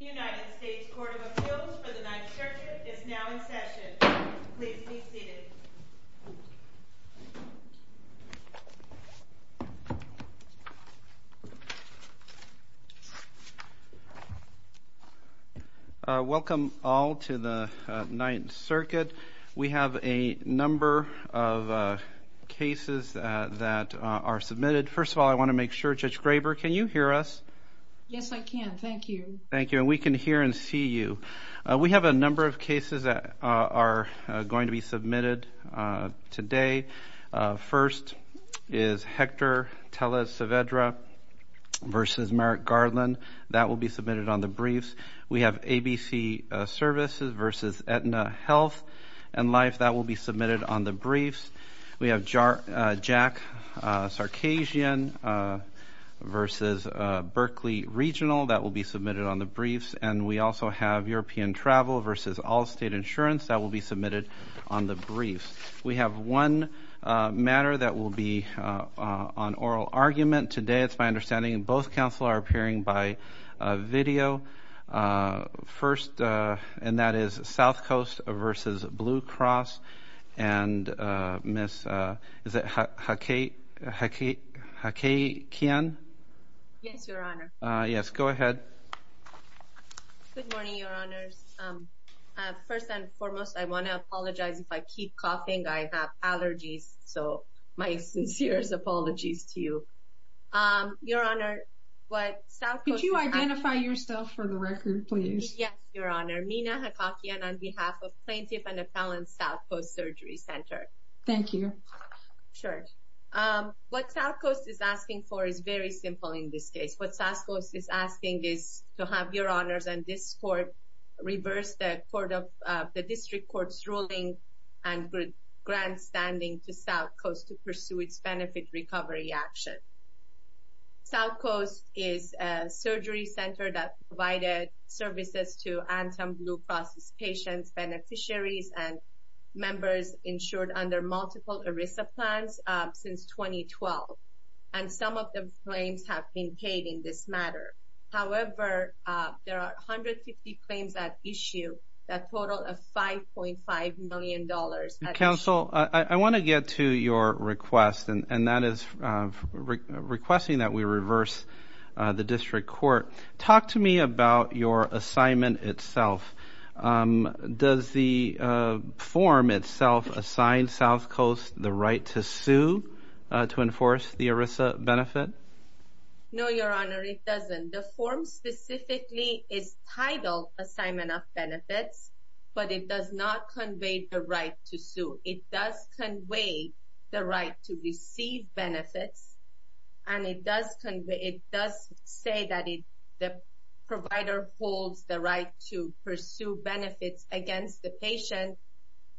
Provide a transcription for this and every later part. United States Court of Appeals for the 9th Circuit is now in session. Please be seated. Welcome all to the 9th Circuit. We have a number of cases that are submitted. First of all, I want to make sure, Judge Graber, can you hear us? Yes, I can. Thank you. Thank you. And we can hear and see you. We have a number of cases that are going to be submitted today. First is Hector Tellez-Savedra v. Merrick Garland. That will be submitted on the briefs. We have ABC Services v. Aetna Health and Life. That will be submitted on the briefs. We have Jack Sarkazian v. Berkeley Regional. That will be submitted on the briefs. And we also have European Travel v. Allstate Insurance. That will be submitted on the briefs. We have one matter that will be on oral argument today. It's my understanding both counsel are appearing by video. First, and that is South Coast v. Blue Cross. And Ms. Hakkiyan? Yes, Your Honor. Yes, go ahead. Good morning, Your Honors. First and foremost, I want to apologize. If I keep coughing, I have allergies. So my sincerest apologies to you. Could you identify yourself for the record, please? Yes, Your Honor. Mina Hakkiyan on behalf of Plaintiff and Appellant South Coast Surgery Center. Thank you. Sure. What South Coast is asking for is very simple in this case. What South Coast is asking is to have Your Honors and this Court reverse the District Court's ruling and grant standing to South Coast to pursue its benefit recovery action. South Coast is a surgery center that provided services to Anthem Blue Cross patients, beneficiaries, and members insured under multiple ERISA plans since 2012. And some of the claims have been paid in this matter. However, there are 150 claims at issue that total of $5.5 million. Counsel, I want to get to your request, and that is requesting that we reverse the District Court. Talk to me about your assignment itself. Does the form itself assign South Coast the right to sue to enforce the ERISA benefit? No, Your Honor, it doesn't. The form specifically is titled Assignment of Benefits, but it does not convey the right to sue. It does convey the right to receive benefits, and it does say that the provider holds the right to pursue benefits against the patient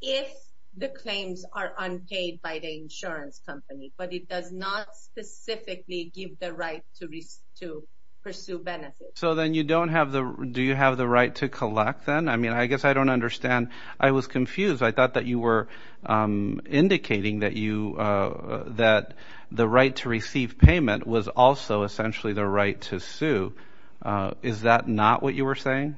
if the claims are unpaid by the insurance company. But it does not specifically give the right to pursue benefits. So then, do you have the right to collect then? I mean, I guess I don't understand. I was confused. I thought that you were indicating that the right to receive payment was also essentially the right to sue. Is that not what you were saying?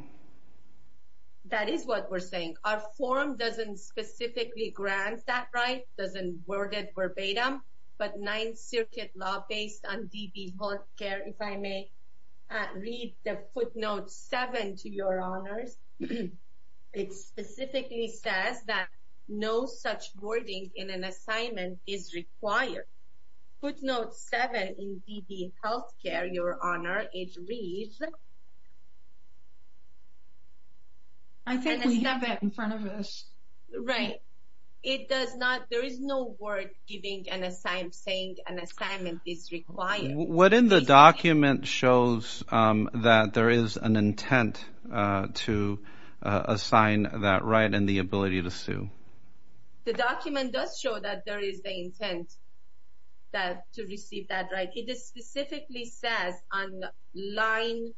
That is what we're saying. Our form doesn't specifically grant that right, doesn't word it verbatim. But Ninth Circuit law based on DB Health Care, if I may read the footnote 7 to Your Honors, it specifically says that no such wording in an assignment is required. Footnote 7 in DB Health Care, Your Honor, it reads... I think we have it in front of us. Right. There is no word saying an assignment is required. What in the document shows that there is an intent to assign that right and the ability to sue? The document does show that there is the intent to receive that right. It specifically says on the line...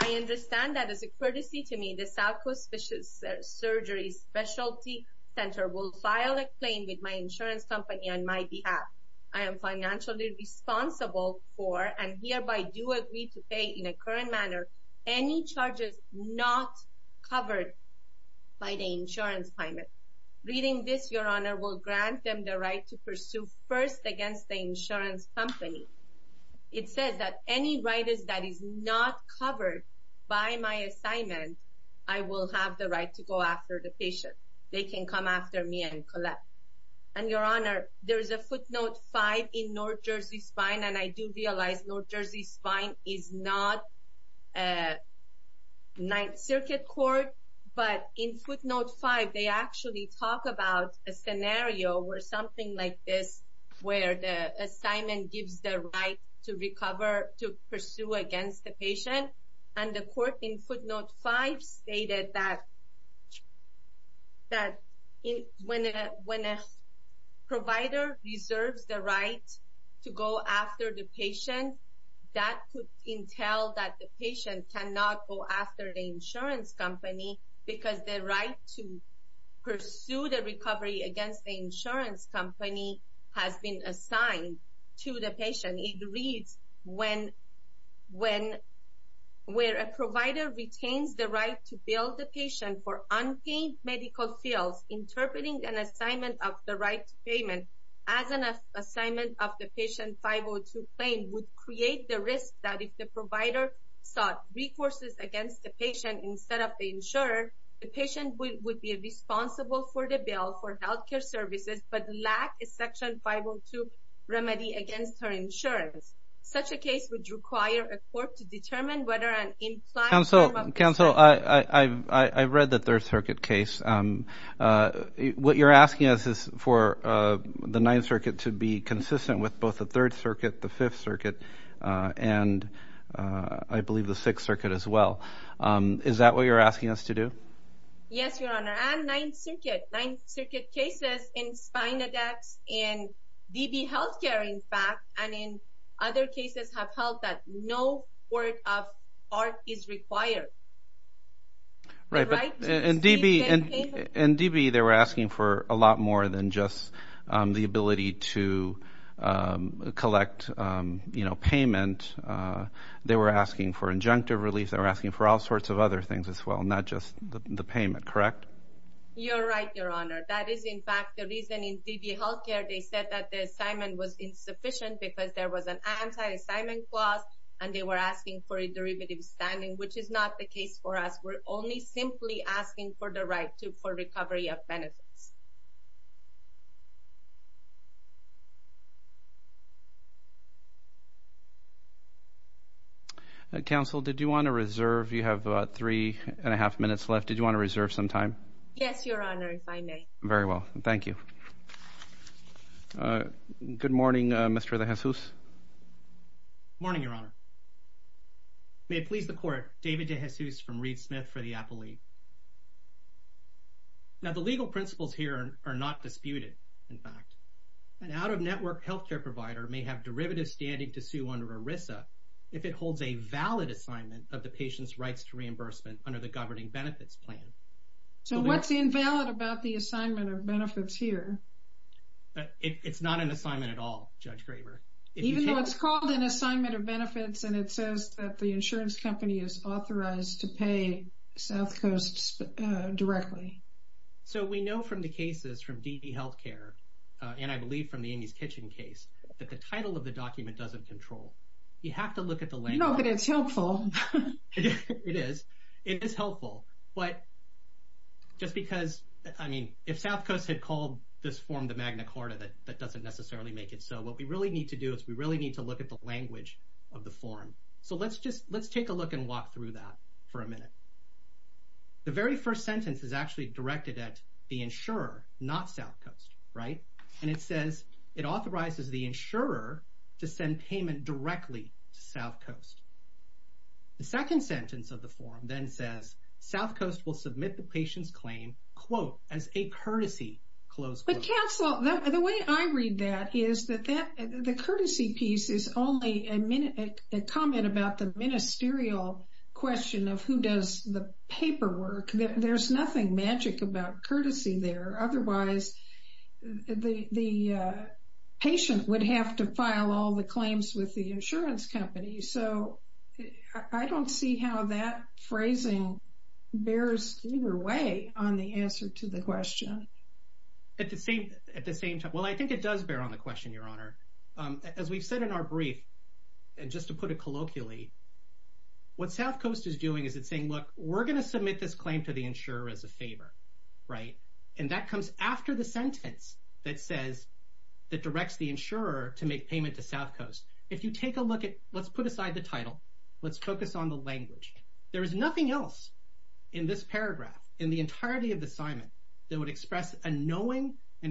I understand that as a courtesy to me, the Southwest Surgery Specialty Center will file a claim with my insurance company on my behalf. I am financially responsible for and hereby do agree to pay in a current manner any charges not covered by the insurance payment. Reading this, Your Honor, will grant them the right to pursue first against the insurance company. It says that any right that is not covered by my assignment, I will have the right to go after the patient. They can come after me and collect. And Your Honor, there is a footnote 5 in North Jersey Spine, and I do realize North Jersey Spine is not a Ninth Circuit court. But in footnote 5, they actually talk about a scenario where something like this, where the assignment gives the right to recover, to pursue against the patient. And the court in footnote 5 stated that when a provider reserves the right to go after the patient, that could entail that the patient cannot go after the insurance company because the right to pursue the recovery against the insurance company has been assigned to the patient. It reads, where a provider retains the right to bill the patient for unpaid medical bills, interpreting an assignment of the right to payment as an assignment of the patient 502 claim would create the risk that if the provider sought recourses against the patient instead of the insurer, the patient would be responsible for the bill for health care services but lack a section 502 remedy against her insurance. Such a case would require a court to determine whether an implied form of... Yes, Your Honor, and Ninth Circuit. Ninth Circuit cases in Spina Dex, in DB health care, in fact, and in other cases have held that no word of art is required. Right, but in DB they were asking for a lot more than just the ability to collect payment. They were asking for injunctive relief, they were asking for all sorts of other things as well, not just the payment, correct? You're right, Your Honor. That is, in fact, the reason in DB health care they said that the assignment was insufficient because there was an anti-assignment clause, and they were asking for a derivative standing, which is not the case for us. We're only simply asking for the right to for recovery of benefits. Counsel, did you want to reserve? You have three and a half minutes left. Did you want to reserve some time? Yes, Your Honor, if I may. Very well, thank you. Good morning, Mr. De Jesus. Good morning, Your Honor. May it please the Court, David De Jesus from Reed Smith for the Appellate. Now, the legal principles here are not disputed, in fact. An out-of-network health care provider may have derivative standing to sue under ERISA if it holds a valid assignment of the patient's rights to reimbursement under the Governing Benefits Plan. So what's invalid about the assignment of benefits here? It's not an assignment at all, Judge Graver. Even though it's called an assignment of benefits, and it says that the insurance company is authorized to pay South Coast directly. So we know from the cases from DB health care, and I believe from the Amy's Kitchen case, that the title of the document doesn't control. You have to look at the language. No, but it's helpful. It is. It is helpful. But just because, I mean, if South Coast had called this form the Magna Carta, that doesn't necessarily make it so. What we really need to do is we really need to look at the language of the form. So let's just let's take a look and walk through that for a minute. The very first sentence is actually directed at the insurer, not South Coast, right? And it says it authorizes the insurer to send payment directly to South Coast. The second sentence of the form then says South Coast will submit the patient's claim, quote, as a courtesy, close. But counsel, the way I read that is that that the courtesy piece is only a minute, a comment about the ministerial question of who does the paperwork. There's nothing magic about courtesy there. Otherwise, the patient would have to file all the claims with the insurance company. So I don't see how that phrasing bears either way on the answer to the question at the same at the same time. Well, I think it does bear on the question, Your Honor. As we've said in our brief, and just to put it colloquially, what South Coast is doing is it's saying, look, we're going to submit this claim to the insurer as a favor. Right. And that comes after the sentence that says that directs the insurer to make payment to South Coast. If you take a look at let's put aside the title. Let's focus on the language. There is nothing else in this paragraph in the entirety of the assignment that would express a knowing and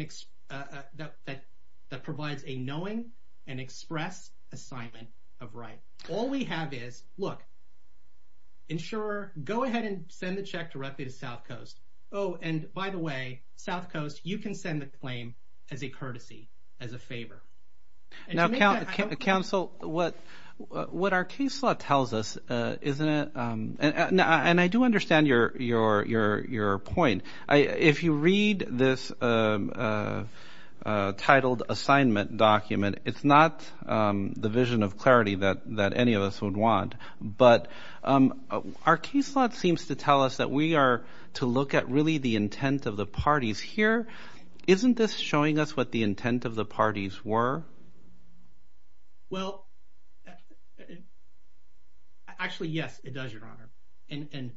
that provides a knowing and express assignment of right. All we have is, look, insurer, go ahead and send the check directly to South Coast. Oh, and by the way, South Coast, you can send the claim as a courtesy, as a favor. Now, counsel, what our case law tells us, isn't it? And I do understand your point. If you read this titled assignment document, it's not the vision of clarity that any of us would want. But our case law seems to tell us that we are to look at really the intent of the parties here. Isn't this showing us what the intent of the parties were? Well. Actually, yes, it does, Your Honor. And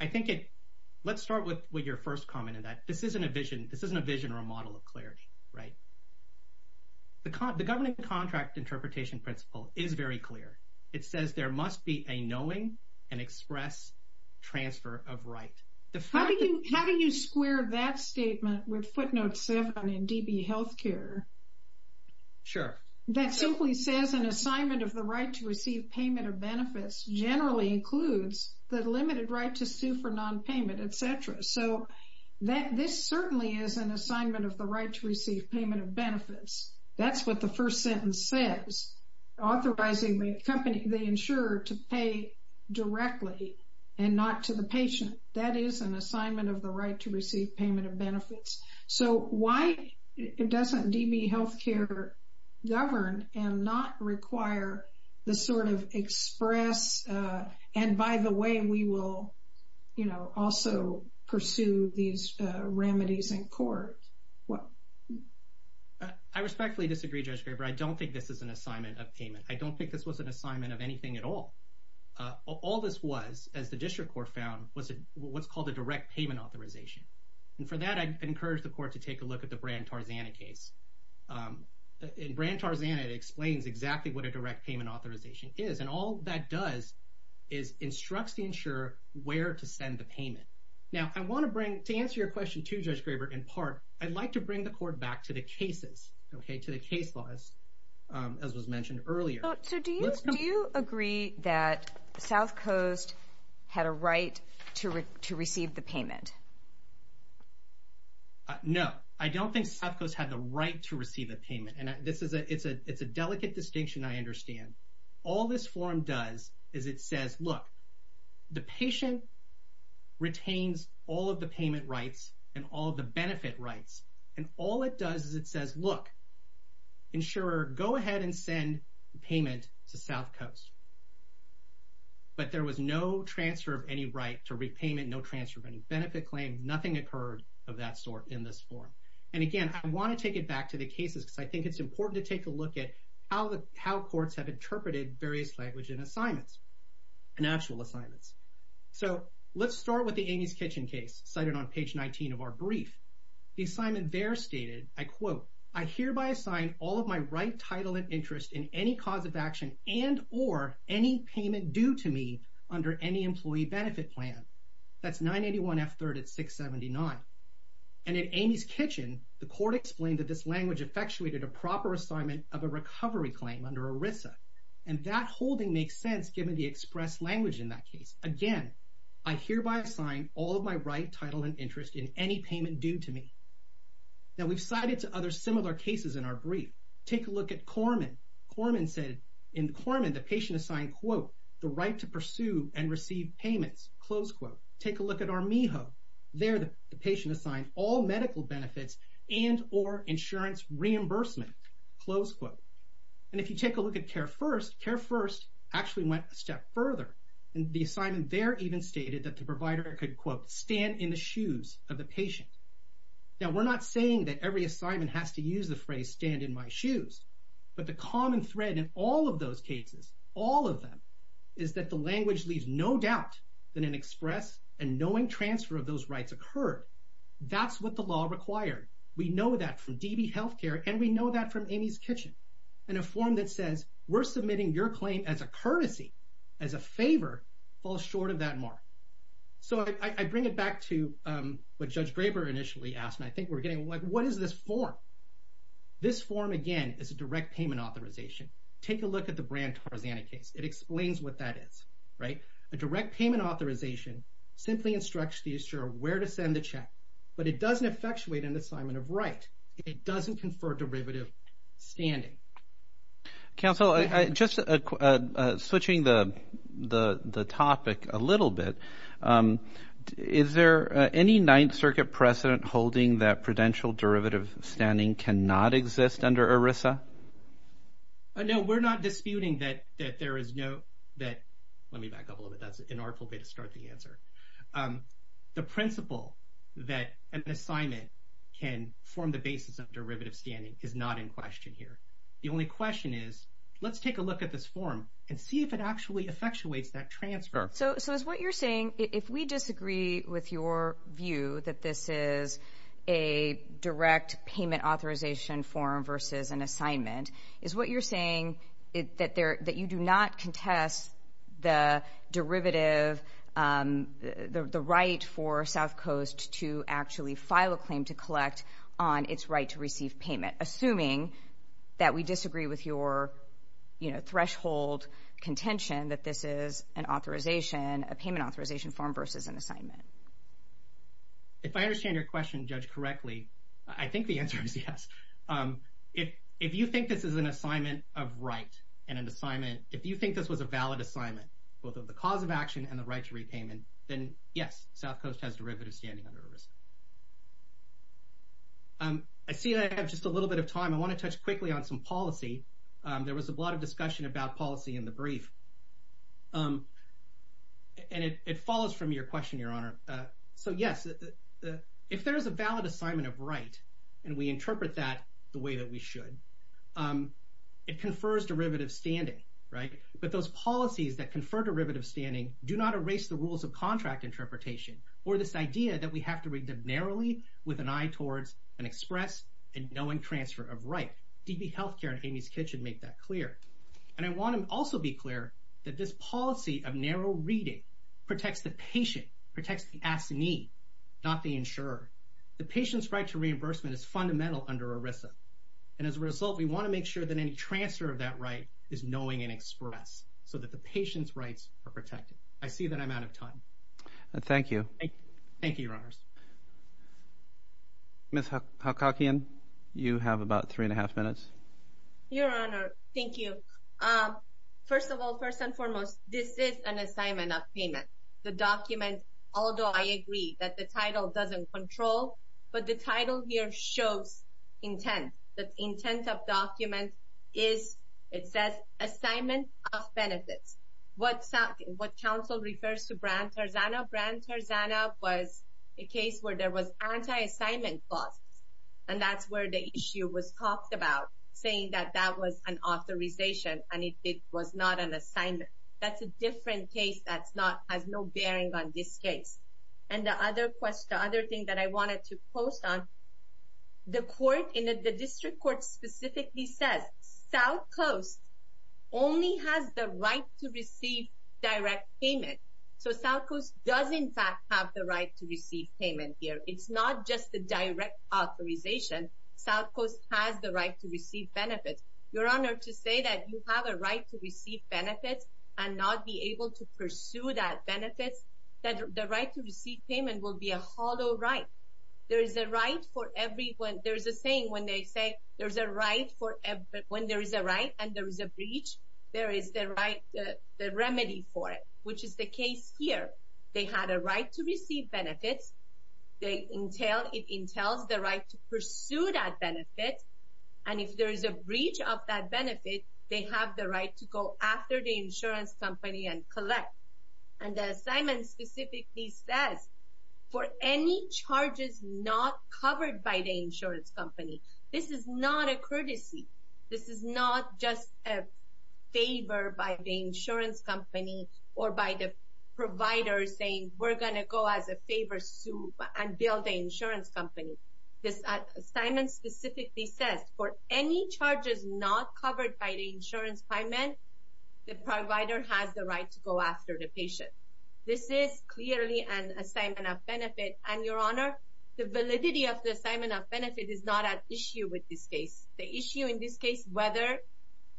I think it let's start with what your first comment in that this isn't a vision. This isn't a vision or a model of clarity. Right. The government contract interpretation principle is very clear. It says there must be a knowing and express transfer of right. How do you square that statement with footnote seven in DB health care? Sure. That simply says an assignment of the right to receive payment of benefits generally includes the limited right to sue for nonpayment, etc. So that this certainly is an assignment of the right to receive payment of benefits. That's what the first sentence says. Authorizing the company they insure to pay directly and not to the patient. That is an assignment of the right to receive payment of benefits. So why doesn't DB health care govern and not require the sort of express? And by the way, we will, you know, also pursue these remedies in court. Well, I respectfully disagree, Judge Graber. I don't think this is an assignment of payment. I don't think this was an assignment of anything at all. All this was, as the district court found, was what's called a direct payment authorization. And for that, I encourage the court to take a look at the brand Tarzana case in brand Tarzana. It explains exactly what a direct payment authorization is. And all that does is instructs the insurer where to send the payment. Now, I want to bring to answer your question to Judge Graber in part. I'd like to bring the court back to the cases, OK, to the case laws, as was mentioned earlier. So do you agree that South Coast had a right to receive the payment? No, I don't think South Coast had the right to receive a payment. And this is a it's a it's a delicate distinction. I understand all this form does is it says, look, the patient retains all of the payment rights and all the benefit rights. And all it does is it says, look, insurer, go ahead and send payment to South Coast. But there was no transfer of any right to repayment, no transfer of any benefit claim. Nothing occurred of that sort in this form. And again, I want to take it back to the cases because I think it's important to take a look at how the how courts have interpreted various language and assignments and actual assignments. So let's start with the Amy's Kitchen case cited on page 19 of our brief. The assignment there stated, I quote, I hereby assign all of my right title and interest in any cause of action and or any payment due to me under any employee benefit plan. That's 981F3rd at 679. And in Amy's Kitchen, the court explained that this language effectuated a proper assignment of a recovery claim under ERISA. And that holding makes sense given the express language in that case. Again, I hereby assign all of my right title and interest in any payment due to me. Now, we've cited to other similar cases in our brief. Take a look at Corman. In Corman, the patient assigned, quote, the right to pursue and receive payments, close quote. Take a look at Armijo. There, the patient assigned all medical benefits and or insurance reimbursement, close quote. And if you take a look at CareFirst, CareFirst actually went a step further. And the assignment there even stated that the provider could, quote, stand in the shoes of the patient. Now, we're not saying that every assignment has to use the phrase stand in my shoes. But the common thread in all of those cases, all of them, is that the language leaves no doubt that an express and knowing transfer of those rights occurred. That's what the law required. We know that from DB Healthcare, and we know that from Amy's Kitchen. And a form that says we're submitting your claim as a courtesy, as a favor, falls short of that mark. So I bring it back to what Judge Graber initially asked, and I think we're getting, like, what is this form? This form, again, is a direct payment authorization. Take a look at the Brandt-Tarzani case. It explains what that is, right? A direct payment authorization simply instructs the issuer where to send the check, but it doesn't effectuate an assignment of right. It doesn't confer derivative standing. Counsel, just switching the topic a little bit, is there any Ninth Circuit precedent holding that prudential derivative standing cannot exist under ERISA? No, we're not disputing that there is no – let me back up a little bit. That's an artful way to start the answer. The principle that an assignment can form the basis of derivative standing is not in question here. The only question is, let's take a look at this form and see if it actually effectuates that transfer. So is what you're saying, if we disagree with your view that this is a direct payment authorization form versus an assignment, is what you're saying that you do not contest the derivative, the right for South Coast to actually file a claim to collect on its right to receive payment, assuming that we disagree with your threshold contention that this is an authorization, a payment authorization form versus an assignment? If I understand your question, Judge, correctly, I think the answer is yes. If you think this is an assignment of right and an assignment – if you think this was a valid assignment, both of the cause of action and the right to repayment, then yes, South Coast has derivative standing under ERISA. I see I have just a little bit of time. I want to touch quickly on some policy. There was a lot of discussion about policy in the brief, and it follows from your question, Your Honor. So yes, if there is a valid assignment of right and we interpret that the way that we should, it confers derivative standing, right? But those policies that confer derivative standing do not erase the rules of contract interpretation or this idea that we have to read them narrowly with an eye towards an express and knowing transfer of right. DB Healthcare and Amy's Kitchen make that clear. And I want to also be clear that this policy of narrow reading protects the patient, protects the assignee, not the insurer. The patient's right to reimbursement is fundamental under ERISA. And as a result, we want to make sure that any transfer of that right is knowing and express so that the patient's rights are protected. I see that I'm out of time. Thank you. Thank you, Your Honors. Ms. Hakakian, you have about three and a half minutes. Your Honor, thank you. First of all, first and foremost, this is an assignment of payment. The document, although I agree that the title doesn't control, but the title here shows intent. The intent of document is, it says, assignment of benefits. What counsel refers to Brandt-Tarzana, Brandt-Tarzana was a case where there was anti-assignment clause. And that's where the issue was talked about, saying that that was an authorization and it was not an assignment. That's a different case that has no bearing on this case. And the other thing that I wanted to post on, the court in the district court specifically says, South Coast only has the right to receive direct payment. So South Coast does in fact have the right to receive payment here. It's not just the direct authorization. South Coast has the right to receive benefits. Your Honor, to say that you have a right to receive benefits and not be able to pursue that benefit, that the right to receive payment will be a hollow right. There is a right for everyone. There is a saying when they say there's a right for everyone, there is a right and there is a breach. There is the remedy for it, which is the case here. They had a right to receive benefits. It entails the right to pursue that benefit. And if there is a breach of that benefit, they have the right to go after the insurance company and collect. And the assignment specifically says, for any charges not covered by the insurance company, this is not a courtesy. This is not just a favor by the insurance company or by the provider saying we're going to go as a favor suit and bill the insurance company. This assignment specifically says, for any charges not covered by the insurance payment, the provider has the right to go after the patient. This is clearly an assignment of benefit. And, Your Honor, the validity of the assignment of benefit is not at issue with this case. The issue in this case, whether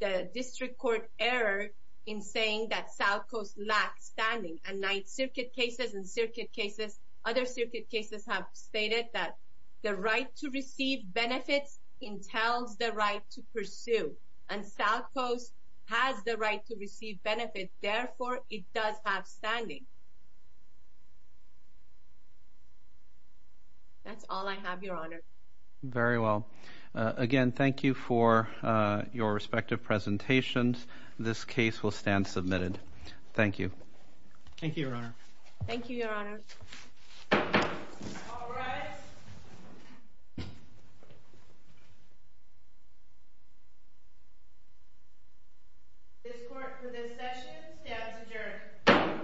the district court error in saying that South Coast lacks standing and Ninth Circuit cases and circuit cases, other circuit cases have stated that the right to receive benefits entails the right to pursue and South Coast has the right to receive benefits. Therefore, it does have standing. That's all I have, Your Honor. Very well. Again, thank you for your respective presentations. This case will stand submitted. Thank you. Thank you, Your Honor. Thank you, Your Honor. All rise. This court for this session stands adjourned. Thank you, Your Honor.